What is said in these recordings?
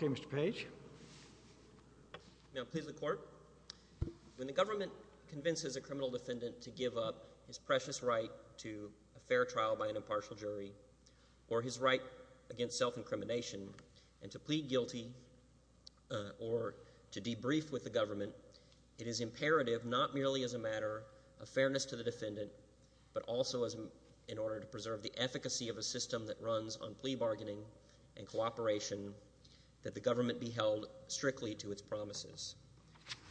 Okay, Mr. Page. Now please, the court. When the government convinces a criminal defendant to give up his precious right to a fair trial by an impartial jury or his right against self-incrimination and to plead guilty or to debrief with the government, it is imperative not merely as a matter of fairness to the defendant but also in order to preserve the efficacy of a system that runs on plea bargaining and cooperation that the government be held strictly to its promises.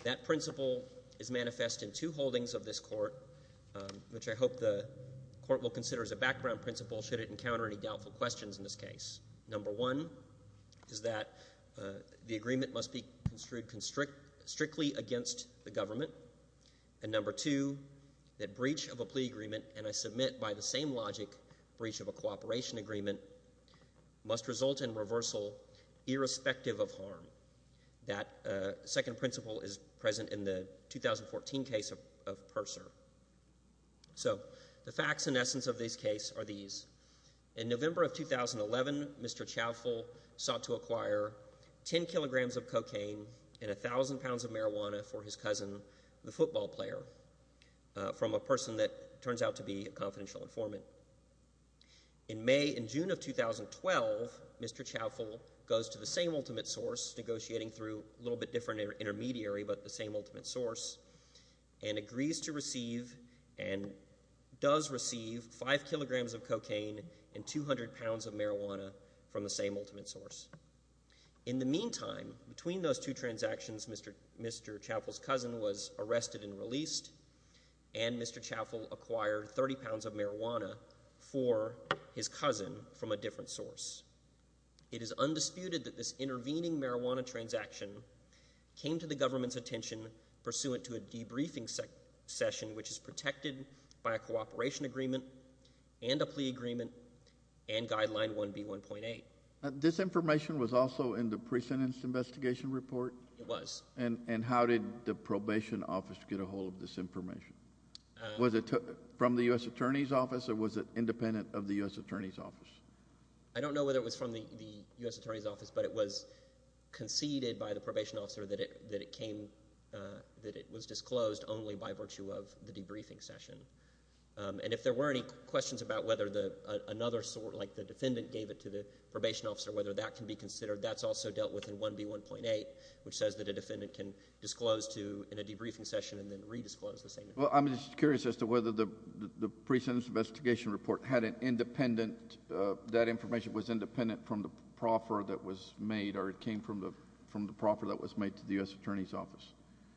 That principle is manifest in two holdings of this court, which I hope the court will consider as a background principle should it encounter any doubtful questions in this case. Number one is that the agreement must be construed strictly against the government. And number two, that breach of a plea agreement, and I submit by the same logic, breach of a cooperation agreement, must result in reversal irrespective of harm. That second principle is present in the 2014 case of Purser. So the facts and essence of this case are these. In November of 2011, Mr. Chavful sought to acquire 10 kilograms of cocaine and 1,000 pounds of marijuana for his cousin, the football player, from a person that turns out to be a confidential informant. In May and June of 2012, Mr. Chavful goes to the same ultimate source, negotiating through a little bit different intermediary but the same ultimate source, and agrees to receive and does receive 5 kilograms of cocaine and 200 pounds of marijuana from the same ultimate source. In the meantime, between those two transactions, Mr. Chavful's cousin was arrested and released, and Mr. Chavful acquired 30 pounds of marijuana for his cousin from a different source. It is undisputed that this intervening marijuana transaction came to the government's attention pursuant to a debriefing session which is protected by a cooperation agreement and a plea agreement and guideline 1B1.8. This information was also in the pre-sentence investigation report? It was. And how did the probation office get a hold of this information? Was it from the U.S. Attorney's Office, or was it independent of the U.S. Attorney's Office? I don't know whether it was from the U.S. Attorney's Office, but it was conceded by the probation officer that it came, that it was disclosed only by virtue of the debriefing session. And if there were any questions about whether another source, like the defendant gave it to the probation officer, whether that can be considered, that's also dealt with in 1B1.8, which says that a defendant can disclose to, in a debriefing session, and then redisclose the same information. Well, I'm just curious as to whether the pre-sentence investigation report had an independent, that information was independent from the proffer that was made, or it came from the proffer that was made to the U.S. Attorney's Office.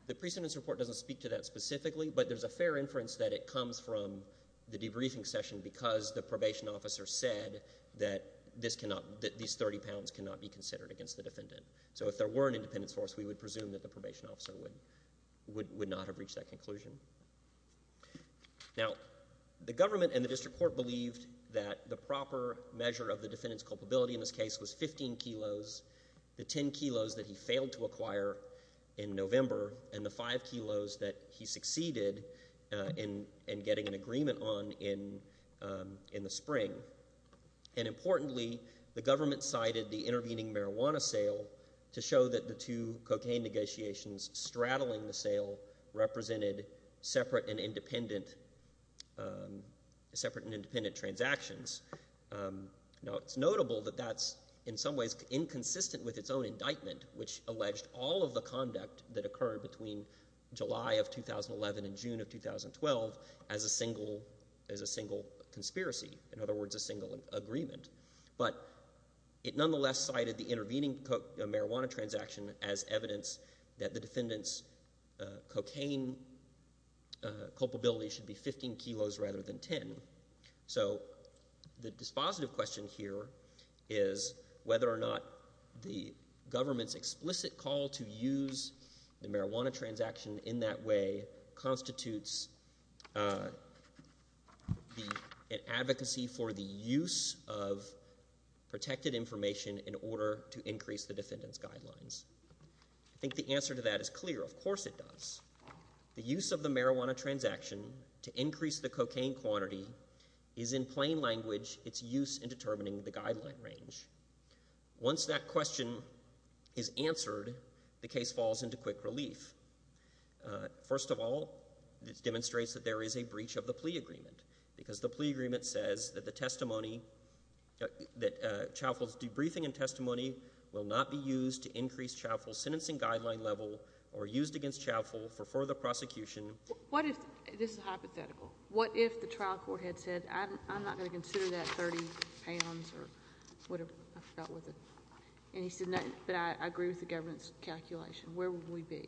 The pre-sentence report doesn't speak to that specifically, but there's a fair inference that it comes from the debriefing session because the probation officer said that this cannot, that these 30 pounds cannot be considered against the defendant. So if there were an independent source, we would presume that the probation officer would not have reached that conclusion. Now, the government and the district court believed that the proper measure of the defendant's culpability in this case was 15 kilos. The 10 kilos that he failed to acquire in November, and the 5 kilos that he succeeded in getting an agreement on in the spring. And importantly, the government cited the intervening marijuana sale to show that the two cocaine negotiations straddling the sale represented separate and independent, separate and independent transactions. Now, it's notable that that's in some ways inconsistent with its own indictment, which alleged all of the conduct that occurred between July of 2011 and June of 2012 as a single, as a single conspiracy. In other words, a single agreement. But it nonetheless cited the intervening marijuana transaction as evidence that the defendant's cocaine culpability should be 15 kilos rather than 10. So the dispositive question here is whether or not the government's explicit call to use the marijuana transaction in that way constitutes an advocacy for the use of protected information in order to increase the defendant's guidelines. I think the answer to that is clear. Of course it does. The use of the marijuana transaction to increase the cocaine quantity is in plain language its use in determining the guideline range. Once that question is answered, the case falls into quick relief. First of all, this demonstrates that there is a breach of the plea agreement because the plea agreement says that the testimony, that Chauffeul's debriefing and testimony will not be used to increase Chauffeul's sentencing guideline level or used against Chauffeul for further prosecution. What if, this is hypothetical, what if the trial court had said I'm not going to consider that 30 pounds or whatever, I forgot what the, and he said no, but I agree with the government's calculation. Where would we be?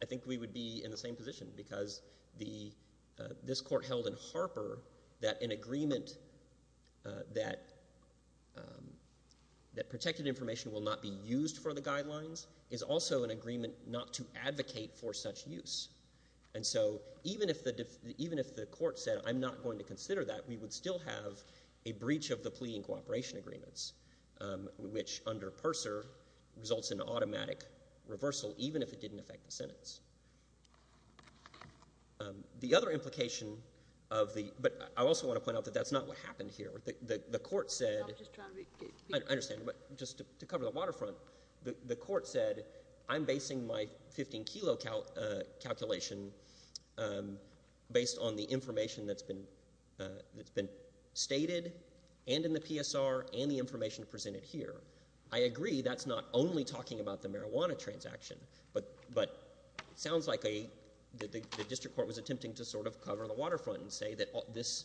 I think we would be in the same position because this court held in Harper that an agreement that protected information will not be used for the guidelines is also an agreement not to advocate for such use. And so even if the court said I'm not going to consider that, we would still have a breach of the plea and cooperation agreements which under Purser results in automatic reversal even if it didn't affect the sentence. The other implication of the, but I also want to point out that that's not what happened here. The court said, I understand, but just to cover the waterfront, the court said I'm basing my 15 kilo calculation based on the information that's been stated and in the PSR and the information presented here. I agree that's not only talking about the marijuana transaction, but it sounds like the district court was attempting to sort of cover the waterfront and say that this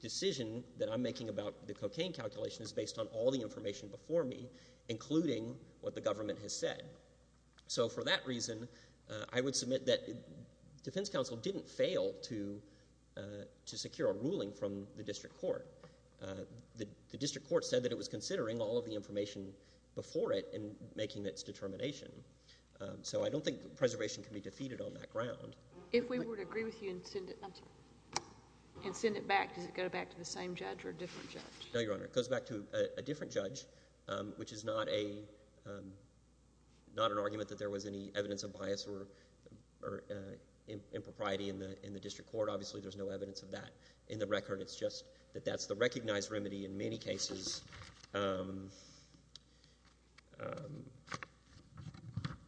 decision that I'm making about the cocaine calculation is based on all the information before me, including what the government has said. So for that reason, I would submit that defense counsel didn't fail to secure a ruling from the district court. The district court said that it was considering all of the information before it in making its determination. So I don't think preservation can be defeated on that ground. If we were to agree with you and send it back, does it go back to the same judge or a different judge? No, Your Honor. It goes back to a different judge, which is not an argument that there was any evidence of bias or impropriety in the district court. Obviously, there's no evidence of that in the record. It's just that that's the recognized remedy in many cases.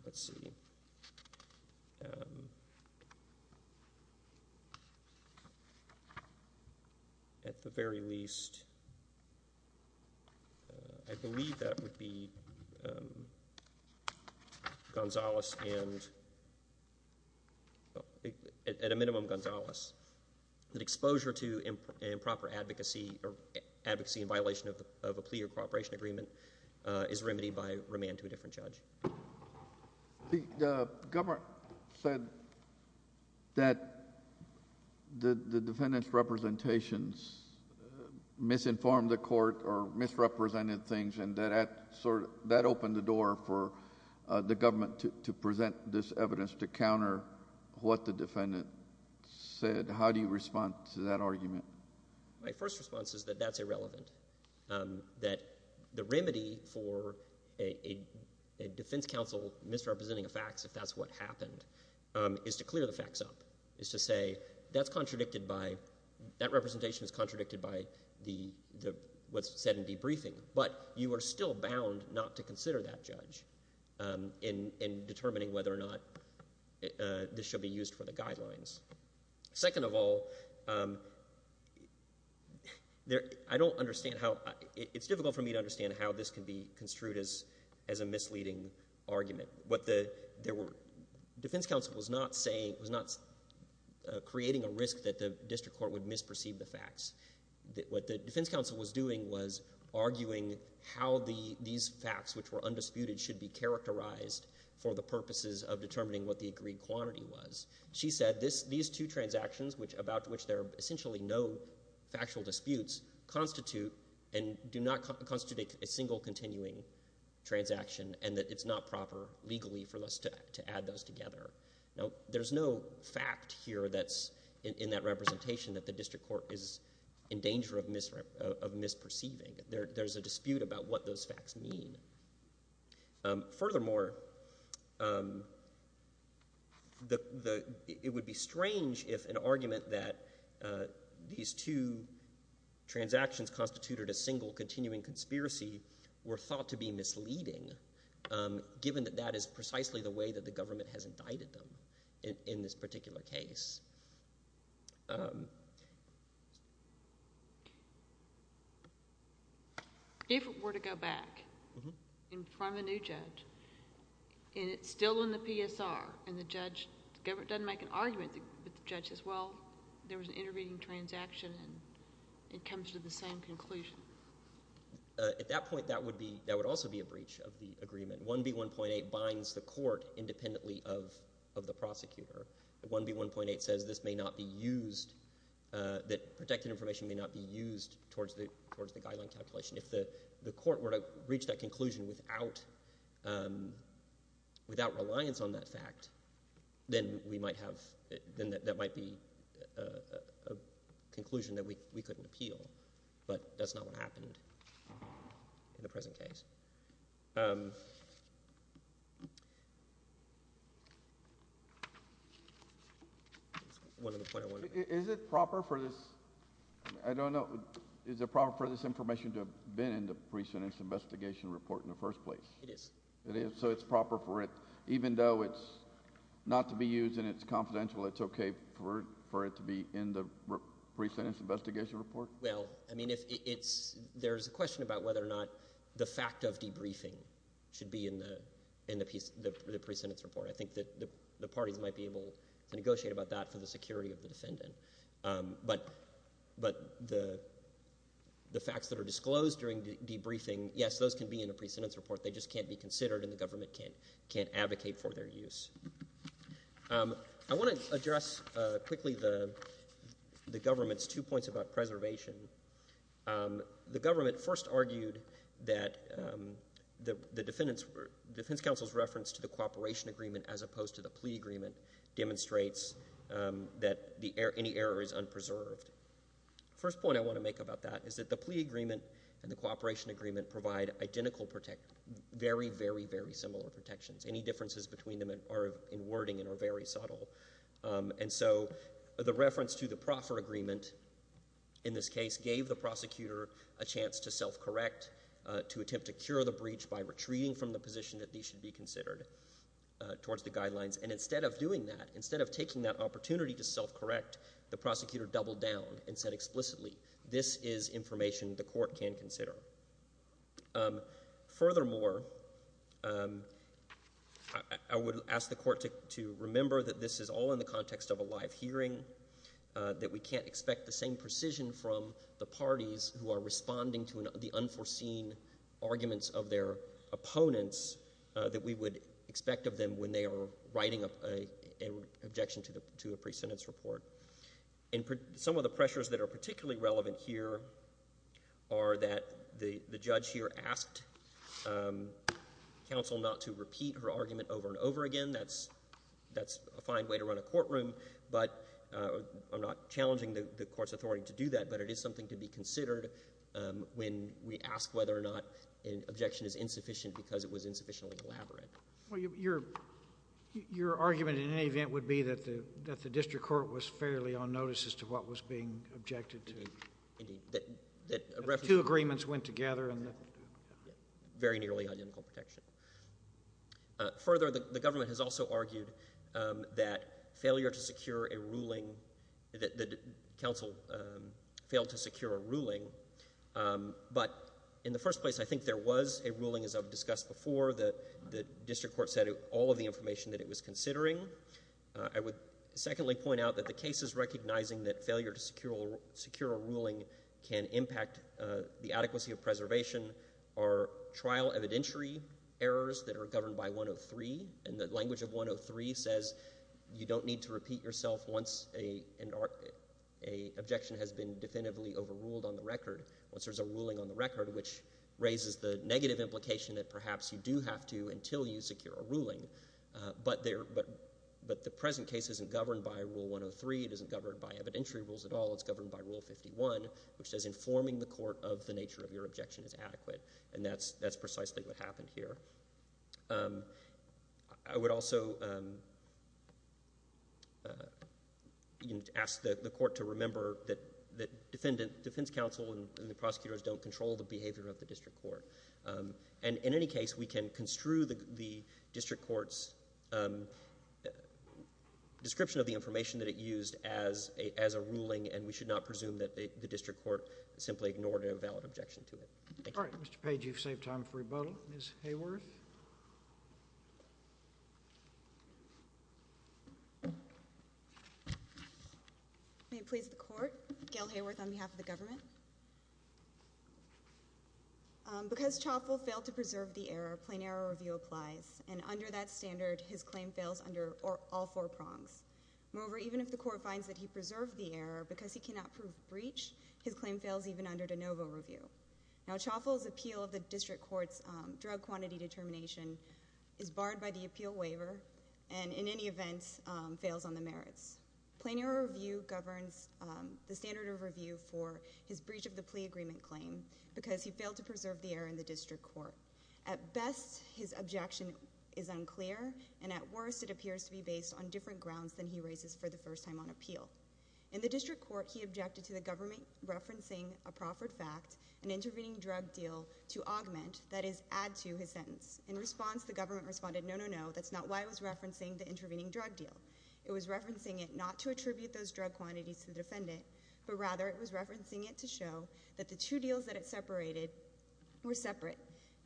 Let's see. At the very least, I believe that would be, at a minimum, Gonzalez, that exposure to improper advocacy or advocacy in violation of a plea or cooperation agreement is remedied by remand to a different judge. The government said that the defendant's representations misinformed the court or misrepresented things, and that opened the door for the government to present this evidence to counter what the defendant said. How do you respond to that argument? My first response is that that's irrelevant, that the remedy for a defense counsel misrepresenting a fax, if that's what happened, is to clear the fax up, is to say that's contradicted by, that representation is contradicted by what's said in debriefing, but you are still bound not to consider that judge in determining whether or not this should be used for the guidelines. Second of all, I don't understand how, it's difficult for me to understand how this can be construed as a misleading argument. What the, there were, defense counsel was not saying, was not creating a risk that the district court would misperceive the fax. What the defense counsel was doing was arguing how these fax which were undisputed should be characterized for the purposes of determining what the agreed quantity was. She said these two transactions which, about which there are essentially no factual disputes, constitute and do not constitute a single continuing transaction and that it's not proper legally for us to add those together. Now, there's no fact here that's in that representation that the district court is in danger of misperceiving. There's a dispute about what those facts mean. Furthermore, the, it would be strange if an argument that these two transactions constituted a single continuing conspiracy were thought to be misleading given that that is precisely the way that the government has indicted them in this particular case. If it were to go back in front of a new judge and it's still in the PSR and the judge doesn't make an argument with the judge as well, there was an intervening transaction and it comes to the same conclusion. At that point, that would be, that would also be a breach of the agreement. 1B1.8 binds the court independently of the prosecutor. 1B1.8 says this may not be used, that protected information may not be used towards the guideline calculation. If the court were to reach that conclusion without reliance on that fact, then we might have, then that might be a conclusion that we couldn't appeal, but that's not what happened in the present case. One other point I wanted to make. Is it proper for this, I don't know, is it proper for this information to have been in the pre-sentence investigation report in the first place? It is. It is, so it's proper for it, even though it's not to be used and it's confidential, it's okay for it to be in the pre-sentence investigation report? Well, I mean, if it's, there's a question about whether or not the fact of debriefing should be in the, in the pre-sentence report. I think that the parties might be able to negotiate about that for the security of the defendant. But, but the, the facts that are disclosed during debriefing, yes, those can be in a pre-sentence report, they just can't be considered and the government can't, can't advocate for their use. I want to address quickly the, the government's two points about preservation. The government first argued that the, the defendant's, defense counsel's reference to the cooperation agreement as opposed to the plea agreement demonstrates that the, any error is unpreserved. First point I want to make about that is that the plea agreement and the cooperation agreement provide identical, very, very, very similar protections. Any differences between them are, are in wording and are very subtle. And so, the reference to the proffer agreement in this case gave the prosecutor a chance to self-correct, to attempt to cure the breach by retreating from the position that these should be considered towards the guidelines. And instead of doing that, instead of taking that opportunity to self-correct, the prosecutor doubled down and said explicitly, this is information the court can consider. Furthermore, I, I would ask the court to, to remember that this is all in the context of a live hearing, that we can't expect the same precision from the parties who are responding to the unforeseen arguments of their opponents that we would expect of them when they are writing a, a, an objection to the, to a pre-sentence report. And some of the pressures that are particularly relevant here are that the, the judge here asked counsel not to repeat her argument over and over again. That's, that's a fine way to run a courtroom, but I'm not challenging the, the court's authority to do that. But it is something to be considered when we ask whether or not an objection is insufficient because it was insufficiently elaborate. Well, your, your, your argument in any event would be that the, that the district court was fairly on notice as to what was being objected to. Indeed, that, that reference. Two agreements went together and. Very nearly identical protection. Further, the, the government has also argued that failure to secure a ruling, that, that counsel failed to secure a ruling. But in the first place, I think there was a ruling, as I've discussed before, that the district court said all of the information that it was considering. I would secondly point out that the case is recognizing that failure to secure a, secure a ruling can impact the adequacy of preservation. Our trial evidentiary errors that are governed by 103, and the language of 103 says, you don't need to repeat yourself once a, an, a objection has been definitively overruled on the record. Once there's a ruling on the record, which raises the negative implication that perhaps you do have to until you secure a ruling. But there, but, but the present case isn't governed by rule 103. It isn't governed by evidentiary rules at all. It's governed by rule 51, which says informing the court of the nature of your objection is adequate, and that's, that's precisely what happened here. I would also you know, ask the, the court to remember that, that defendant, defense counsel and, and the prosecutors don't control the behavior of the district court. And in any case, we can construe the, the district court's description of the information that it used as a, as a ruling, and we should not presume that the, the district court simply ignored a valid objection to it. Thank you. All right, Mr. Page, you've saved time for rebuttal. Ms. Hayworth? May it please the court, Gail Hayworth on behalf of the government. Because Chauffeul failed to preserve the error, plain error review applies. And under that standard, his claim fails under all four prongs. Moreover, even if the court finds that he preserved the error because he cannot prove breach, his claim fails even under de novo review. Now Chauffeul's appeal of the district court's drug quantity determination is barred by the appeal waiver, and in any event, fails on the merits. Plain error review governs the standard of review for his breach of the plea agreement claim because he failed to preserve the error in the district court. At best, his objection is unclear, and at worst, it appears to be based on different grounds than he raises for the first time on appeal. In the district court, he objected to the government referencing a proffered fact, an intervening drug deal to augment, that is, add to his sentence. In response, the government responded, no, no, no, that's not why it was referencing the intervening drug deal. It was referencing it not to attribute those drug quantities to the defendant, but rather it was referencing it to show that the two deals that it separated were separate.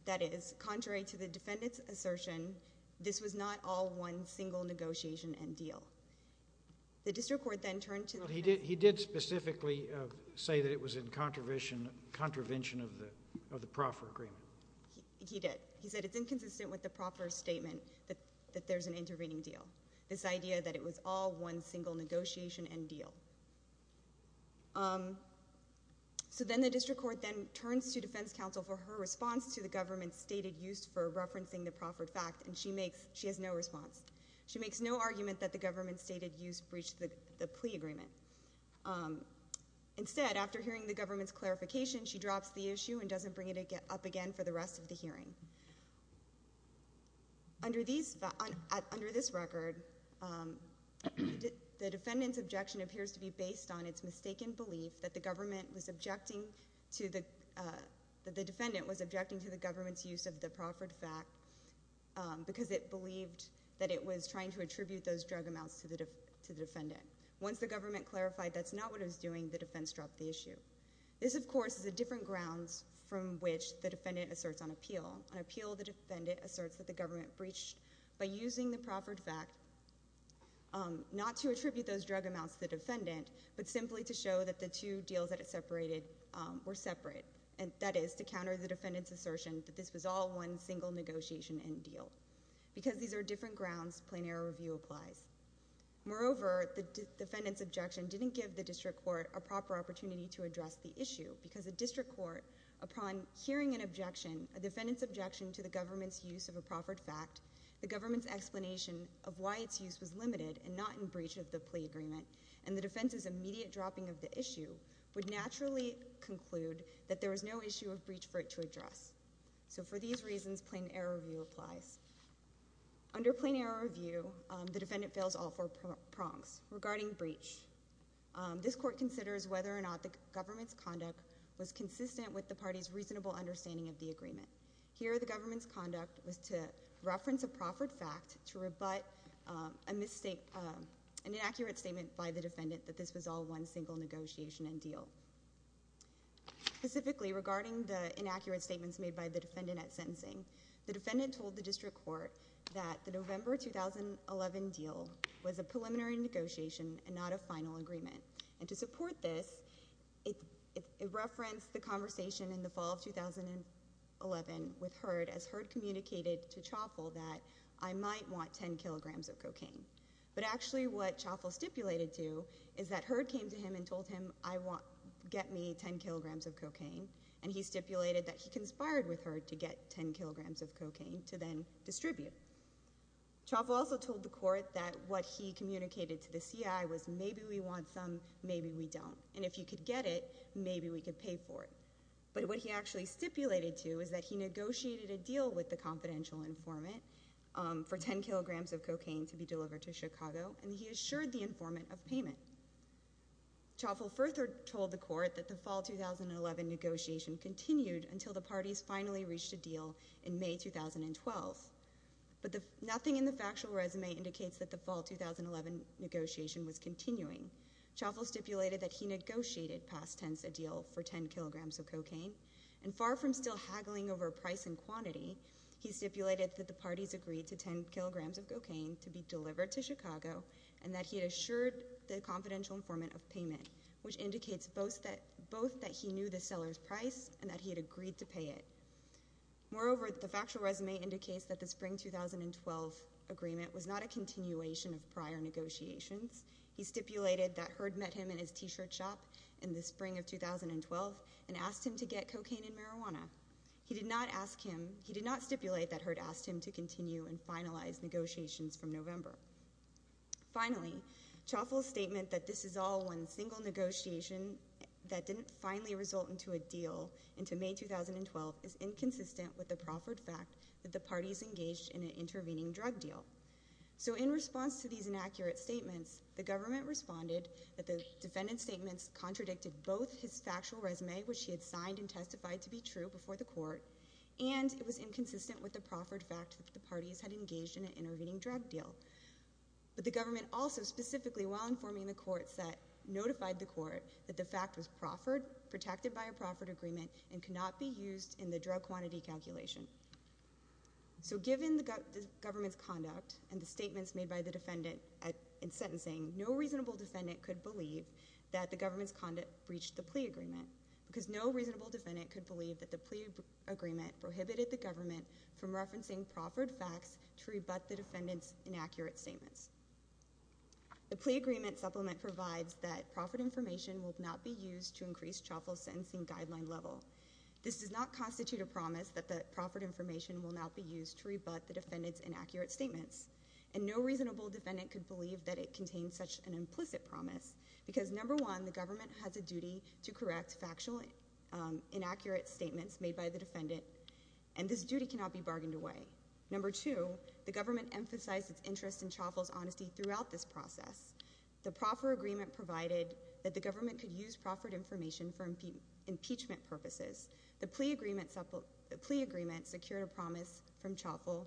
That is, contrary to the defendant's assertion, this was not all one single negotiation and deal. The district court then turned to the defense. He did specifically say that it was in contravention of the proffered agreement. He did. He said it's inconsistent with the proffered statement that there's an intervening deal. This idea that it was all one single negotiation and deal. So then the district court then turns to defense counsel for her response to the government's stated use for referencing the proffered fact, and she makes, she has no response. She makes no argument that the government's stated use breached the plea agreement. Instead, after hearing the government's clarification, she drops the issue and doesn't bring it up again for the rest of the hearing. Under this record, the defendant's objection appears to be based on its mistaken belief that the government was objecting to the, that the defendant was objecting to the government's use of the proffered fact because it believed that it was trying to attribute those drug amounts to the defendant. Once the government clarified that's not what it was doing, the defense dropped the issue. This, of course, is a different grounds from which the defendant asserts on appeal. On appeal, the defendant asserts that the government breached by using the proffered fact, not to attribute those drug amounts to the defendant, but simply to show that the two deals that it separated were separate, and that is to counter the defendant's assertion that this was all one single negotiation and deal. Because these are different grounds, plain error review applies. Moreover, the defendant's objection didn't give the district court a proper opportunity to address the issue because the district court, upon hearing an objection, a defendant's objection to the government's use of a proffered fact, the government's explanation of why its use was limited and not in breach of the plea agreement, and the defense's immediate dropping of the issue would naturally conclude that there was no issue of breach for it to address. So for these reasons, plain error review applies. Under plain error review, the defendant fails all four prongs regarding breach. This court considers whether or not the government's conduct was consistent with the party's reasonable understanding of the agreement. Here, the government's conduct was to reference a proffered fact to rebut an inaccurate statement by the defendant that this was all one single negotiation and deal. Specifically, regarding the inaccurate statements made by the defendant at sentencing, the defendant told the district court that the November 2011 deal was a preliminary negotiation and not a final agreement. And to support this, it referenced the conversation in the fall of 2011 with Heard as Heard communicated to Choffell that I might want 10 kilograms of cocaine. But actually what Choffell stipulated to is that Heard came to him and told him, I want, get me 10 kilograms of cocaine, and he stipulated that he conspired with Heard to get 10 kilograms of cocaine to then distribute. Choffell also told the court that what he communicated to the CI was maybe we want some, maybe we don't, and if you could get it, maybe we could pay for it. But what he actually stipulated to is that he negotiated a deal with the confidential informant for 10 kilograms of cocaine to be delivered to Chicago, and he assured the informant of payment. Choffell further told the court that the fall 2011 negotiation continued until the parties finally reached a deal in May 2012. But nothing in the factual resume indicates that the fall 2011 negotiation was continuing. Choffell stipulated that he negotiated past tense a deal for 10 kilograms of cocaine, and far from still haggling over price and quantity, he stipulated that the parties agreed to 10 kilograms of cocaine to be delivered to Chicago, and that he assured the confidential informant of payment, which indicates both that he knew the seller's price and that he had agreed to pay it. Moreover, the factual resume indicates that the spring 2012 agreement was not a continuation of prior negotiations. He stipulated that Heard met him in his t-shirt shop in the spring of 2012 and asked him to get cocaine and marijuana. He did not ask him, he did not stipulate that Heard asked him to continue and finalize negotiations from November. Finally, Choffell's statement that this is all one single negotiation that didn't finally result into a deal into May 2012 is inconsistent with the proffered fact that the parties engaged in an intervening drug deal. So in response to these inaccurate statements, the government responded that the defendant's statements contradicted both his factual resume, which he had signed and testified to be true before the court, and it was inconsistent with the proffered fact that the parties had engaged in an intervening drug deal. But the government also specifically, while informing the courts that notified the court that the fact was proffered, protected by a proffered agreement and cannot be used in the drug quantity calculation. So given the government's conduct and the statements made by the defendant in sentencing, no reasonable defendant could believe that the government's conduct breached the plea agreement because no reasonable defendant could believe that the plea agreement prohibited the government from referencing proffered facts to rebut the defendant's inaccurate statements. The plea agreement supplement provides that proffered information will not be used to increase chaffel's sentencing guideline level. This does not constitute a promise that the proffered information will not be used to rebut the defendant's inaccurate statements. And no reasonable defendant could believe that it contains such an implicit promise because number one, the government has a duty to correct factual inaccurate statements made by the defendant. And this duty cannot be bargained away. Number two, the government emphasized its interest in chaffel's honesty throughout this process. The proffered agreement provided that the government could use proffered information for impeachment purposes. The plea agreement secured a promise from chaffel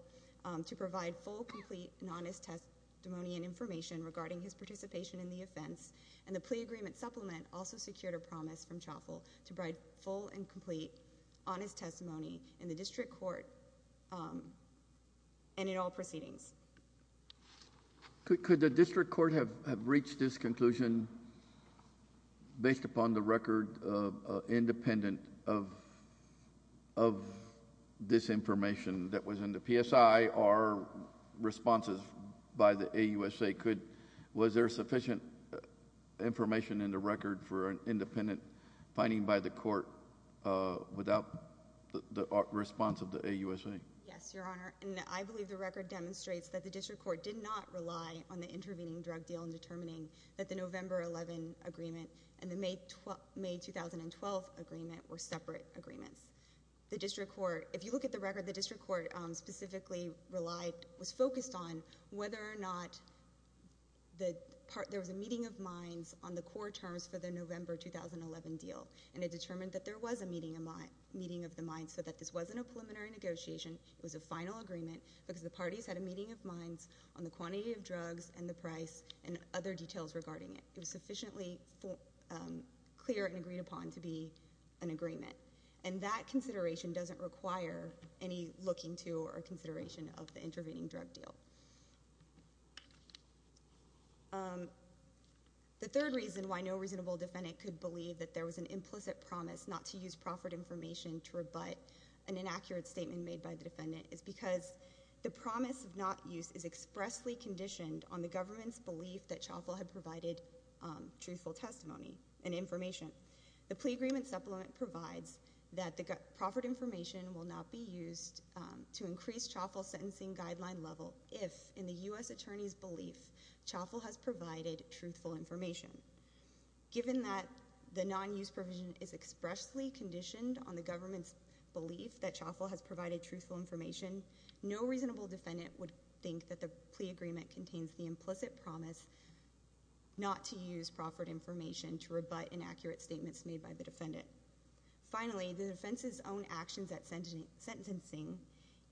to provide full, complete, and honest testimony and information regarding his participation in the offense. And the plea agreement supplement also secured a promise from chaffel to provide full and complete, honest testimony in the district court and in all proceedings. Could the district court have reached this conclusion based upon the record independent of this information that was in the PSI or responses by the AUSA? Was there sufficient information in the record for an independent finding by the court without the response of the AUSA? Yes, your honor. And I believe the record demonstrates that the district court did not rely on the intervening drug deal in determining that the November 11 agreement and the May 2012 agreement were separate agreements. The district court, if you look at the record, the district court specifically relied, was focused on whether or not there was a meeting of minds on the court terms for the November 2011 deal and it determined that there was a meeting of the minds so that this wasn't a preliminary negotiation, it was a final agreement because the parties had a meeting of minds on the quantity of drugs and the price and other details regarding it. It was sufficiently clear and agreed upon to be an agreement. And that consideration doesn't require any looking to or consideration of the intervening drug deal. The third reason why no reasonable defendant could believe that there was an implicit promise not to use proffered information to rebut an inaccurate statement made by the defendant is because the promise of not use is expressly conditioned on the government's belief that Chauffeul had provided truthful testimony and information. The plea agreement supplement provides that the proffered information will not be used to increase Chauffeul's sentencing guideline level if in the U.S. attorney's belief Chauffeul has provided truthful information. Given that the non-use provision is expressly conditioned on the government's belief that Chauffeul has provided truthful information, no reasonable defendant would think that the plea agreement contains the implicit promise not to use proffered information to rebut inaccurate statements made by the defendant. Finally, the defense's own actions at sentencing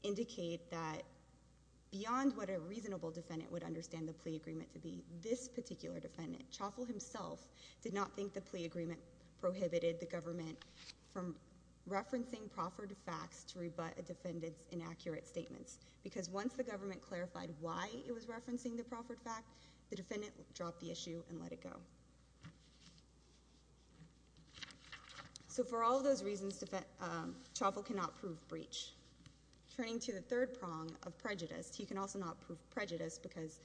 indicate that beyond what a reasonable defendant would understand the plea agreement to be, this particular defendant, Chauffeul himself, did not think the plea agreement prohibited the government from referencing proffered facts to rebut a defendant's inaccurate statements. Because once the government clarified why it was referencing the proffered fact, the defendant dropped the issue and let it go. So for all those reasons, Chauffeul cannot prove breach. Turning to the third prong of prejudice, he can also not prove prejudice because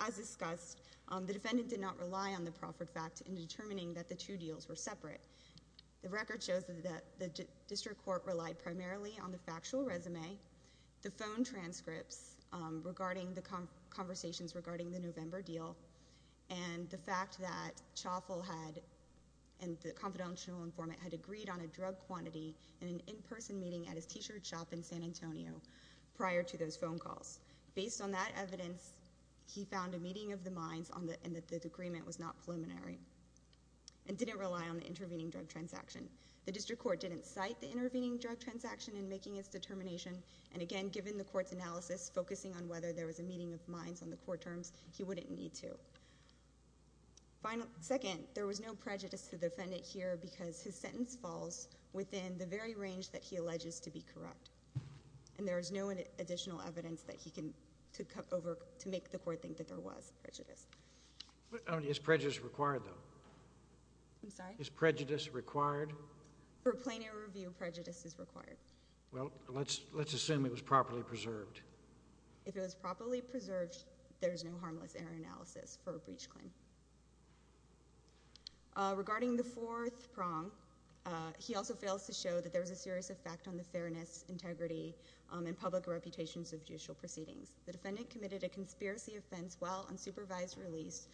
as discussed, the defendant did not rely on the proffered fact in determining that the two deals were separate. The record shows that the district court relied primarily on the factual resume, the phone transcripts regarding the conversations regarding the November deal, and the fact that Chauffeul had, and the confidential informant, had agreed on a drug quantity in an in-person meeting at his t-shirt shop in San Antonio prior to those phone calls. Based on that evidence, he found a meeting of the minds and that the agreement was not preliminary and didn't rely on the intervening drug transaction. The district court didn't cite the intervening drug transaction in making its determination, and again, given the court's analysis focusing on whether there was a meeting of minds on the court terms, he wouldn't need to. Final, second, there was no prejudice to the defendant here because his sentence falls within the very range that he alleges to be corrupt, and there is no additional evidence that he can, to come over to make the court think that there was prejudice. Is prejudice required, though? I'm sorry? Is prejudice required? For a plain air review, prejudice is required. Well, let's assume it was properly preserved. If it was properly preserved, there's no harmless air analysis for a breach claim. Regarding the fourth prong, he also fails to show that there was a serious effect on the fairness, integrity, and public reputations of judicial proceedings. The defendant committed a conspiracy offense while unsupervised release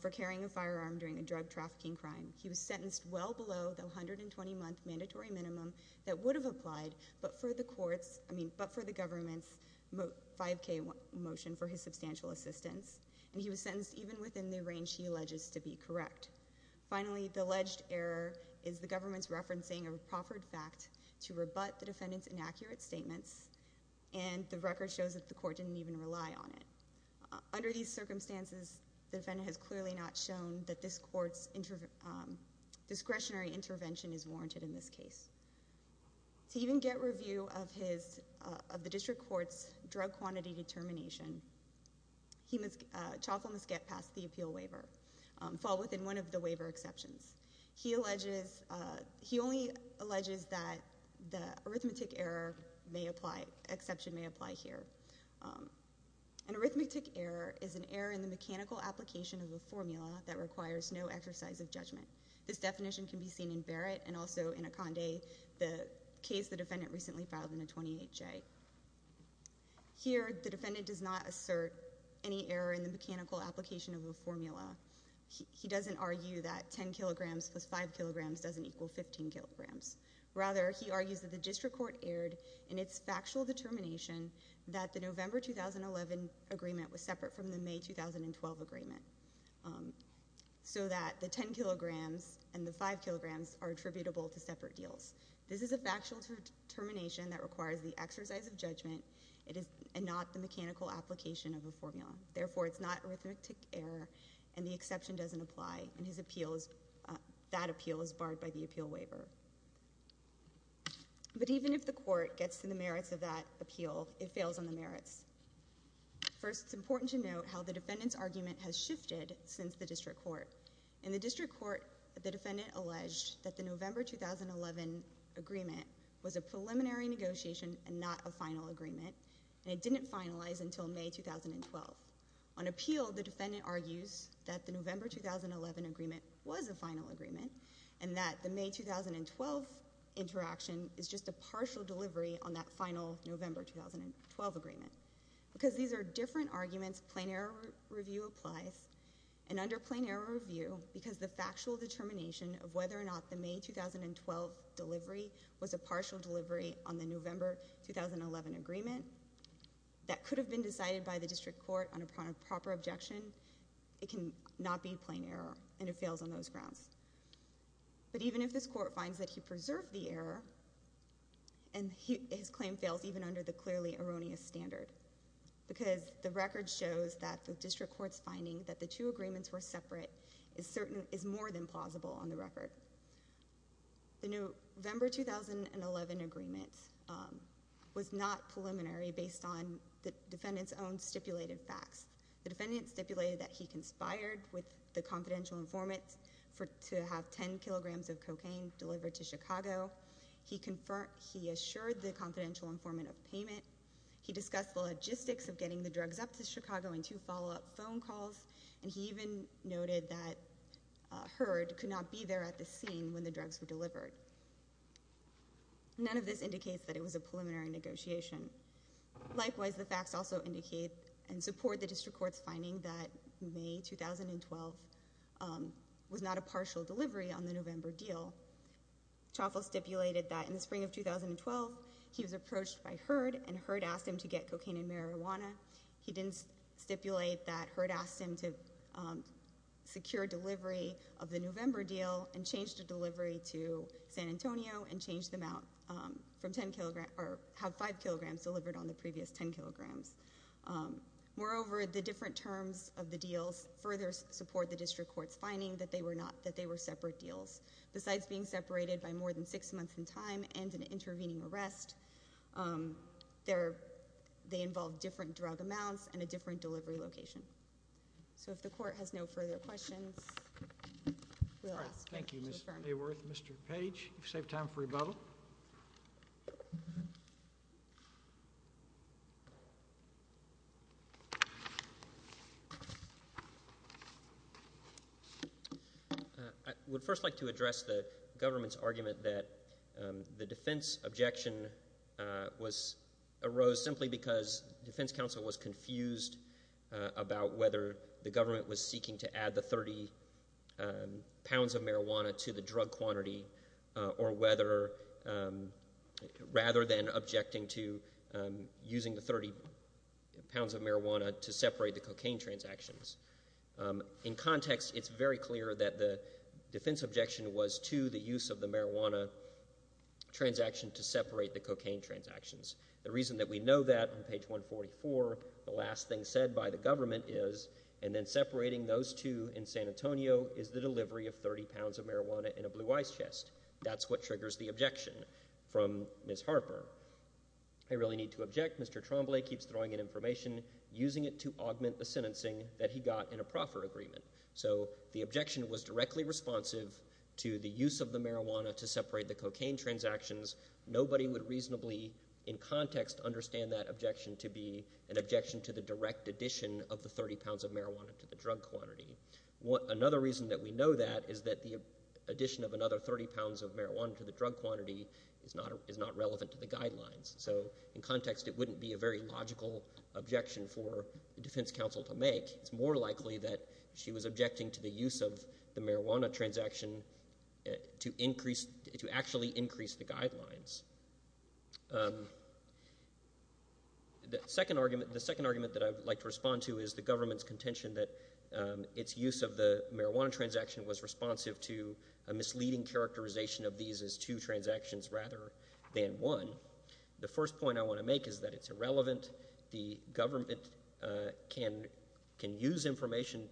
for carrying a firearm during a drug trafficking crime. He was sentenced well below the 120-month mandatory minimum that would have applied, but for the court's, I mean, but for the government's 5K motion for his substantial assistance, and he was sentenced even within the range he alleges to be correct. Finally, the alleged error is the government's referencing of a proffered fact to rebut the defendant's inaccurate statements, and the record shows that the court didn't even rely on it. Under these circumstances, the defendant has clearly not shown that this court's discretionary intervention is warranted in this case. To even get review of his, of the district court's drug quantity determination, he must, Chauffeur must get past the appeal waiver, fall within one of the waiver exceptions. He alleges, he only alleges that the arithmetic error may apply, exception may apply here. An arithmetic error is an error in the mechanical application of a formula that requires no exercise of judgment. This definition can be seen in Barrett, and also in Akande, the case the defendant recently filed in a 28J. Here, the defendant does not assert any error in the mechanical application of a formula. He doesn't argue that 10 kilograms plus 5 kilograms doesn't equal 15 kilograms. Rather, he argues that the district court erred in its factual determination that the November 2011 agreement was separate from the May 2012 agreement, so that the 10 kilograms and the 5 kilograms are attributable to separate deals. This is a factual determination that requires the exercise of judgment, and not the mechanical application of a formula. Therefore, it's not arithmetic error, and the exception doesn't apply, and his appeal is, that appeal is barred by the appeal waiver. But even if the court gets to the merits of that appeal, it fails on the merits. First, it's important to note how the defendant's argument has shifted since the district court. In the district court, the defendant alleged that the November 2011 agreement was a preliminary negotiation, and not a final agreement, and it didn't finalize until May 2012. On appeal, the defendant argues that the November 2011 agreement was a final agreement, and that the May 2012 interaction is just a partial delivery on that final November 2012 agreement. Because these are different arguments, plain error review applies. And under plain error review, because the factual determination of whether or not the May 2012 delivery was a partial delivery on the November 2011 agreement, that could have been decided by the district court on a proper objection, it can not be plain error, and it fails on those grounds. But even if this court finds that he preserved the error, and his claim fails even under the clearly erroneous standard, because the record shows that the district court's finding that the two agreements were separate, is certain, is more than plausible on the record. The November 2011 agreement was not preliminary based on the defendant's own stipulated facts. The defendant stipulated that he conspired with the confidential informant to have 10 kilograms of cocaine delivered to Chicago. He assured the confidential informant of payment. He discussed the logistics of getting the drugs up to Chicago in two follow-up phone calls. And he even noted that Herd could not be there at the scene when the drugs were delivered. None of this indicates that it was a preliminary negotiation. Likewise, the facts also indicate and support the district court's finding that May 2012 was not a partial delivery on the November deal. Choffel stipulated that in the spring of 2012, he was approached by Herd, and Herd asked him to get cocaine and marijuana. He didn't stipulate that Herd asked him to secure delivery of the November deal, and change the delivery to San Antonio, and change them out from 10 kilograms, or have 5 kilograms delivered on the previous 10 kilograms. Moreover, the different terms of the deals further support the district court's finding that they were separate deals. Besides being separated by more than six months in time and an intervening arrest, they involve different drug amounts and a different delivery location. So if the court has no further questions, we'll ask. Thank you, Ms. Mayworth. Mr. Page, you've saved time for rebuttal. I would first like to address the government's argument that the defense objection arose simply because the defense counsel was confused about whether the government was seeking to add the 30 pounds of marijuana to the drug quantity, or whether, rather than objecting to using the 30 pounds of marijuana, to separate the cocaine transactions. In context, it's very clear that the defense objection was to the use of the marijuana transaction to separate the cocaine transactions. The reason that we know that, on page 144, the last thing said by the government is, and then separating those two in San Antonio, is the delivery of 30 pounds of marijuana in a blue ice chest. That's what triggers the objection from Ms. Harper. I really need to object. Mr. Tremblay keeps throwing in information, using it to augment the sentencing that he got in a proffer agreement. So the objection was directly responsive to the use of the marijuana to separate the cocaine transactions. Nobody would reasonably, in context, understand that objection to be an objection to the direct addition of the 30 pounds of marijuana to the drug quantity. Another reason that we know that is that the addition of another 30 pounds of marijuana to the drug quantity is not relevant to the guidelines. So, in context, it wouldn't be a very logical objection for the defense counsel to make. It's more likely that she was objecting to the use of the marijuana transaction to actually increase the guidelines. The second argument that I'd like to respond to is the government's contention that its use of the marijuana transaction was responsive to a misleading characterization of these as two transactions rather than one. The first point I want to make is that it's irrelevant. The government can use information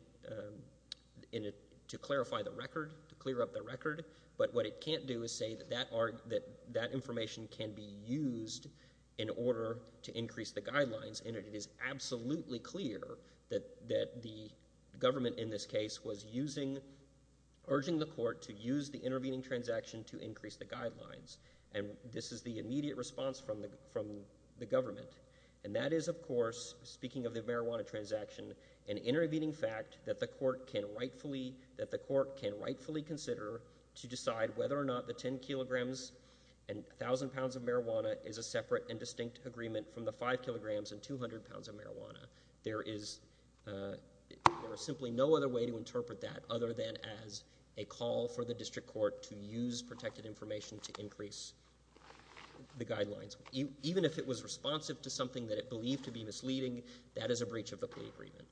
to clarify the record, to clear up the record. But what it can't do is say that that information can be used in order to increase the guidelines. And it is absolutely clear that the government in this case was urging the court to use the intervening transaction to increase the guidelines. And this is the immediate response from the government. And that is, of course, speaking of the marijuana transaction, an intervening fact that the court can rightfully consider to decide whether or not the 10 kilograms and 1,000 pounds of marijuana is a separate and 200 pounds of marijuana, there is simply no other way to interpret that, other than as a call for the district court to use protected information to increase the guidelines. Even if it was responsive to something that it believed to be misleading, that is a breach of the plea agreement.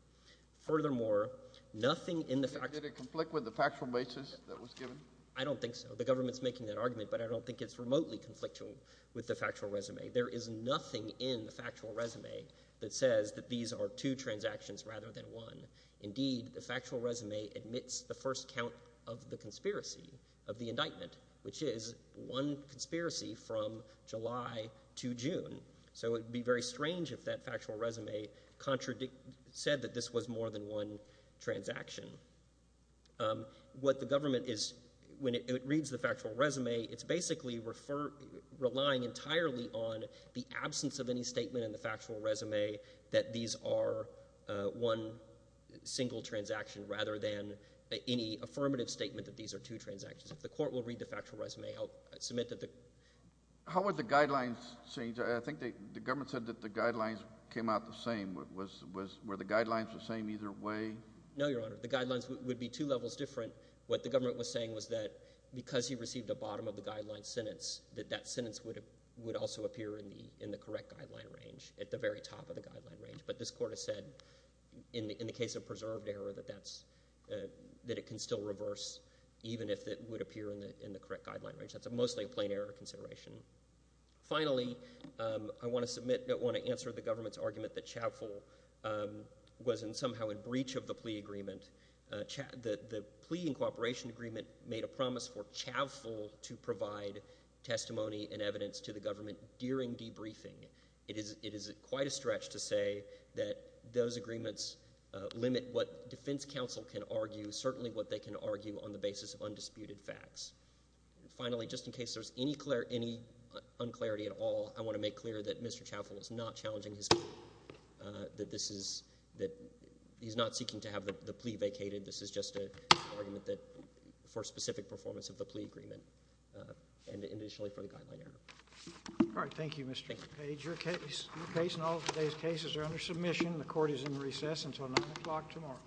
Furthermore, nothing in the fact- Did it conflict with the factual basis that was given? I don't think so. The government's making that argument, but I don't think it's remotely conflicting with the factual resume. There is nothing in the factual resume that says that these are two transactions rather than one. Indeed, the factual resume admits the first count of the conspiracy, of the indictment, which is one conspiracy from July to June. So it would be very strange if that factual resume said that this was more than one transaction. What the government is, when it reads the factual resume, it's basically relying entirely on the absence of any statement in the factual resume that these are one single transaction rather than any affirmative statement that these are two transactions. If the court will read the factual resume, I'll submit that the- How would the guidelines change? I think the government said that the guidelines came out the same. Were the guidelines the same either way? No, Your Honor. The guidelines would be two levels different. What the government was saying was that because he received a bottom of the guideline sentence, that that sentence would also appear in the correct guideline range, at the very top of the guideline range. But this court has said, in the case of preserved error, that it can still reverse even if it would appear in the correct guideline range. That's mostly a plain error consideration. Finally, I want to submit, I want to answer the government's argument that Chavful was somehow in breach of the plea agreement. The plea and cooperation agreement made a promise for Chavful to provide testimony and evidence to the government during debriefing. It is quite a stretch to say that those agreements limit what defense counsel can argue, certainly what they can argue on the basis of undisputed facts. Finally, just in case there's any un-clarity at all, I want to make clear that Mr. Chavful is not challenging his plea. That this is, that he's not seeking to have the plea vacated. This is just an argument for specific performance of the plea agreement and initially for the guideline error. All right, thank you, Mr. Page. Your case and all of today's cases are under submission. The court is in recess until 9 o'clock tomorrow.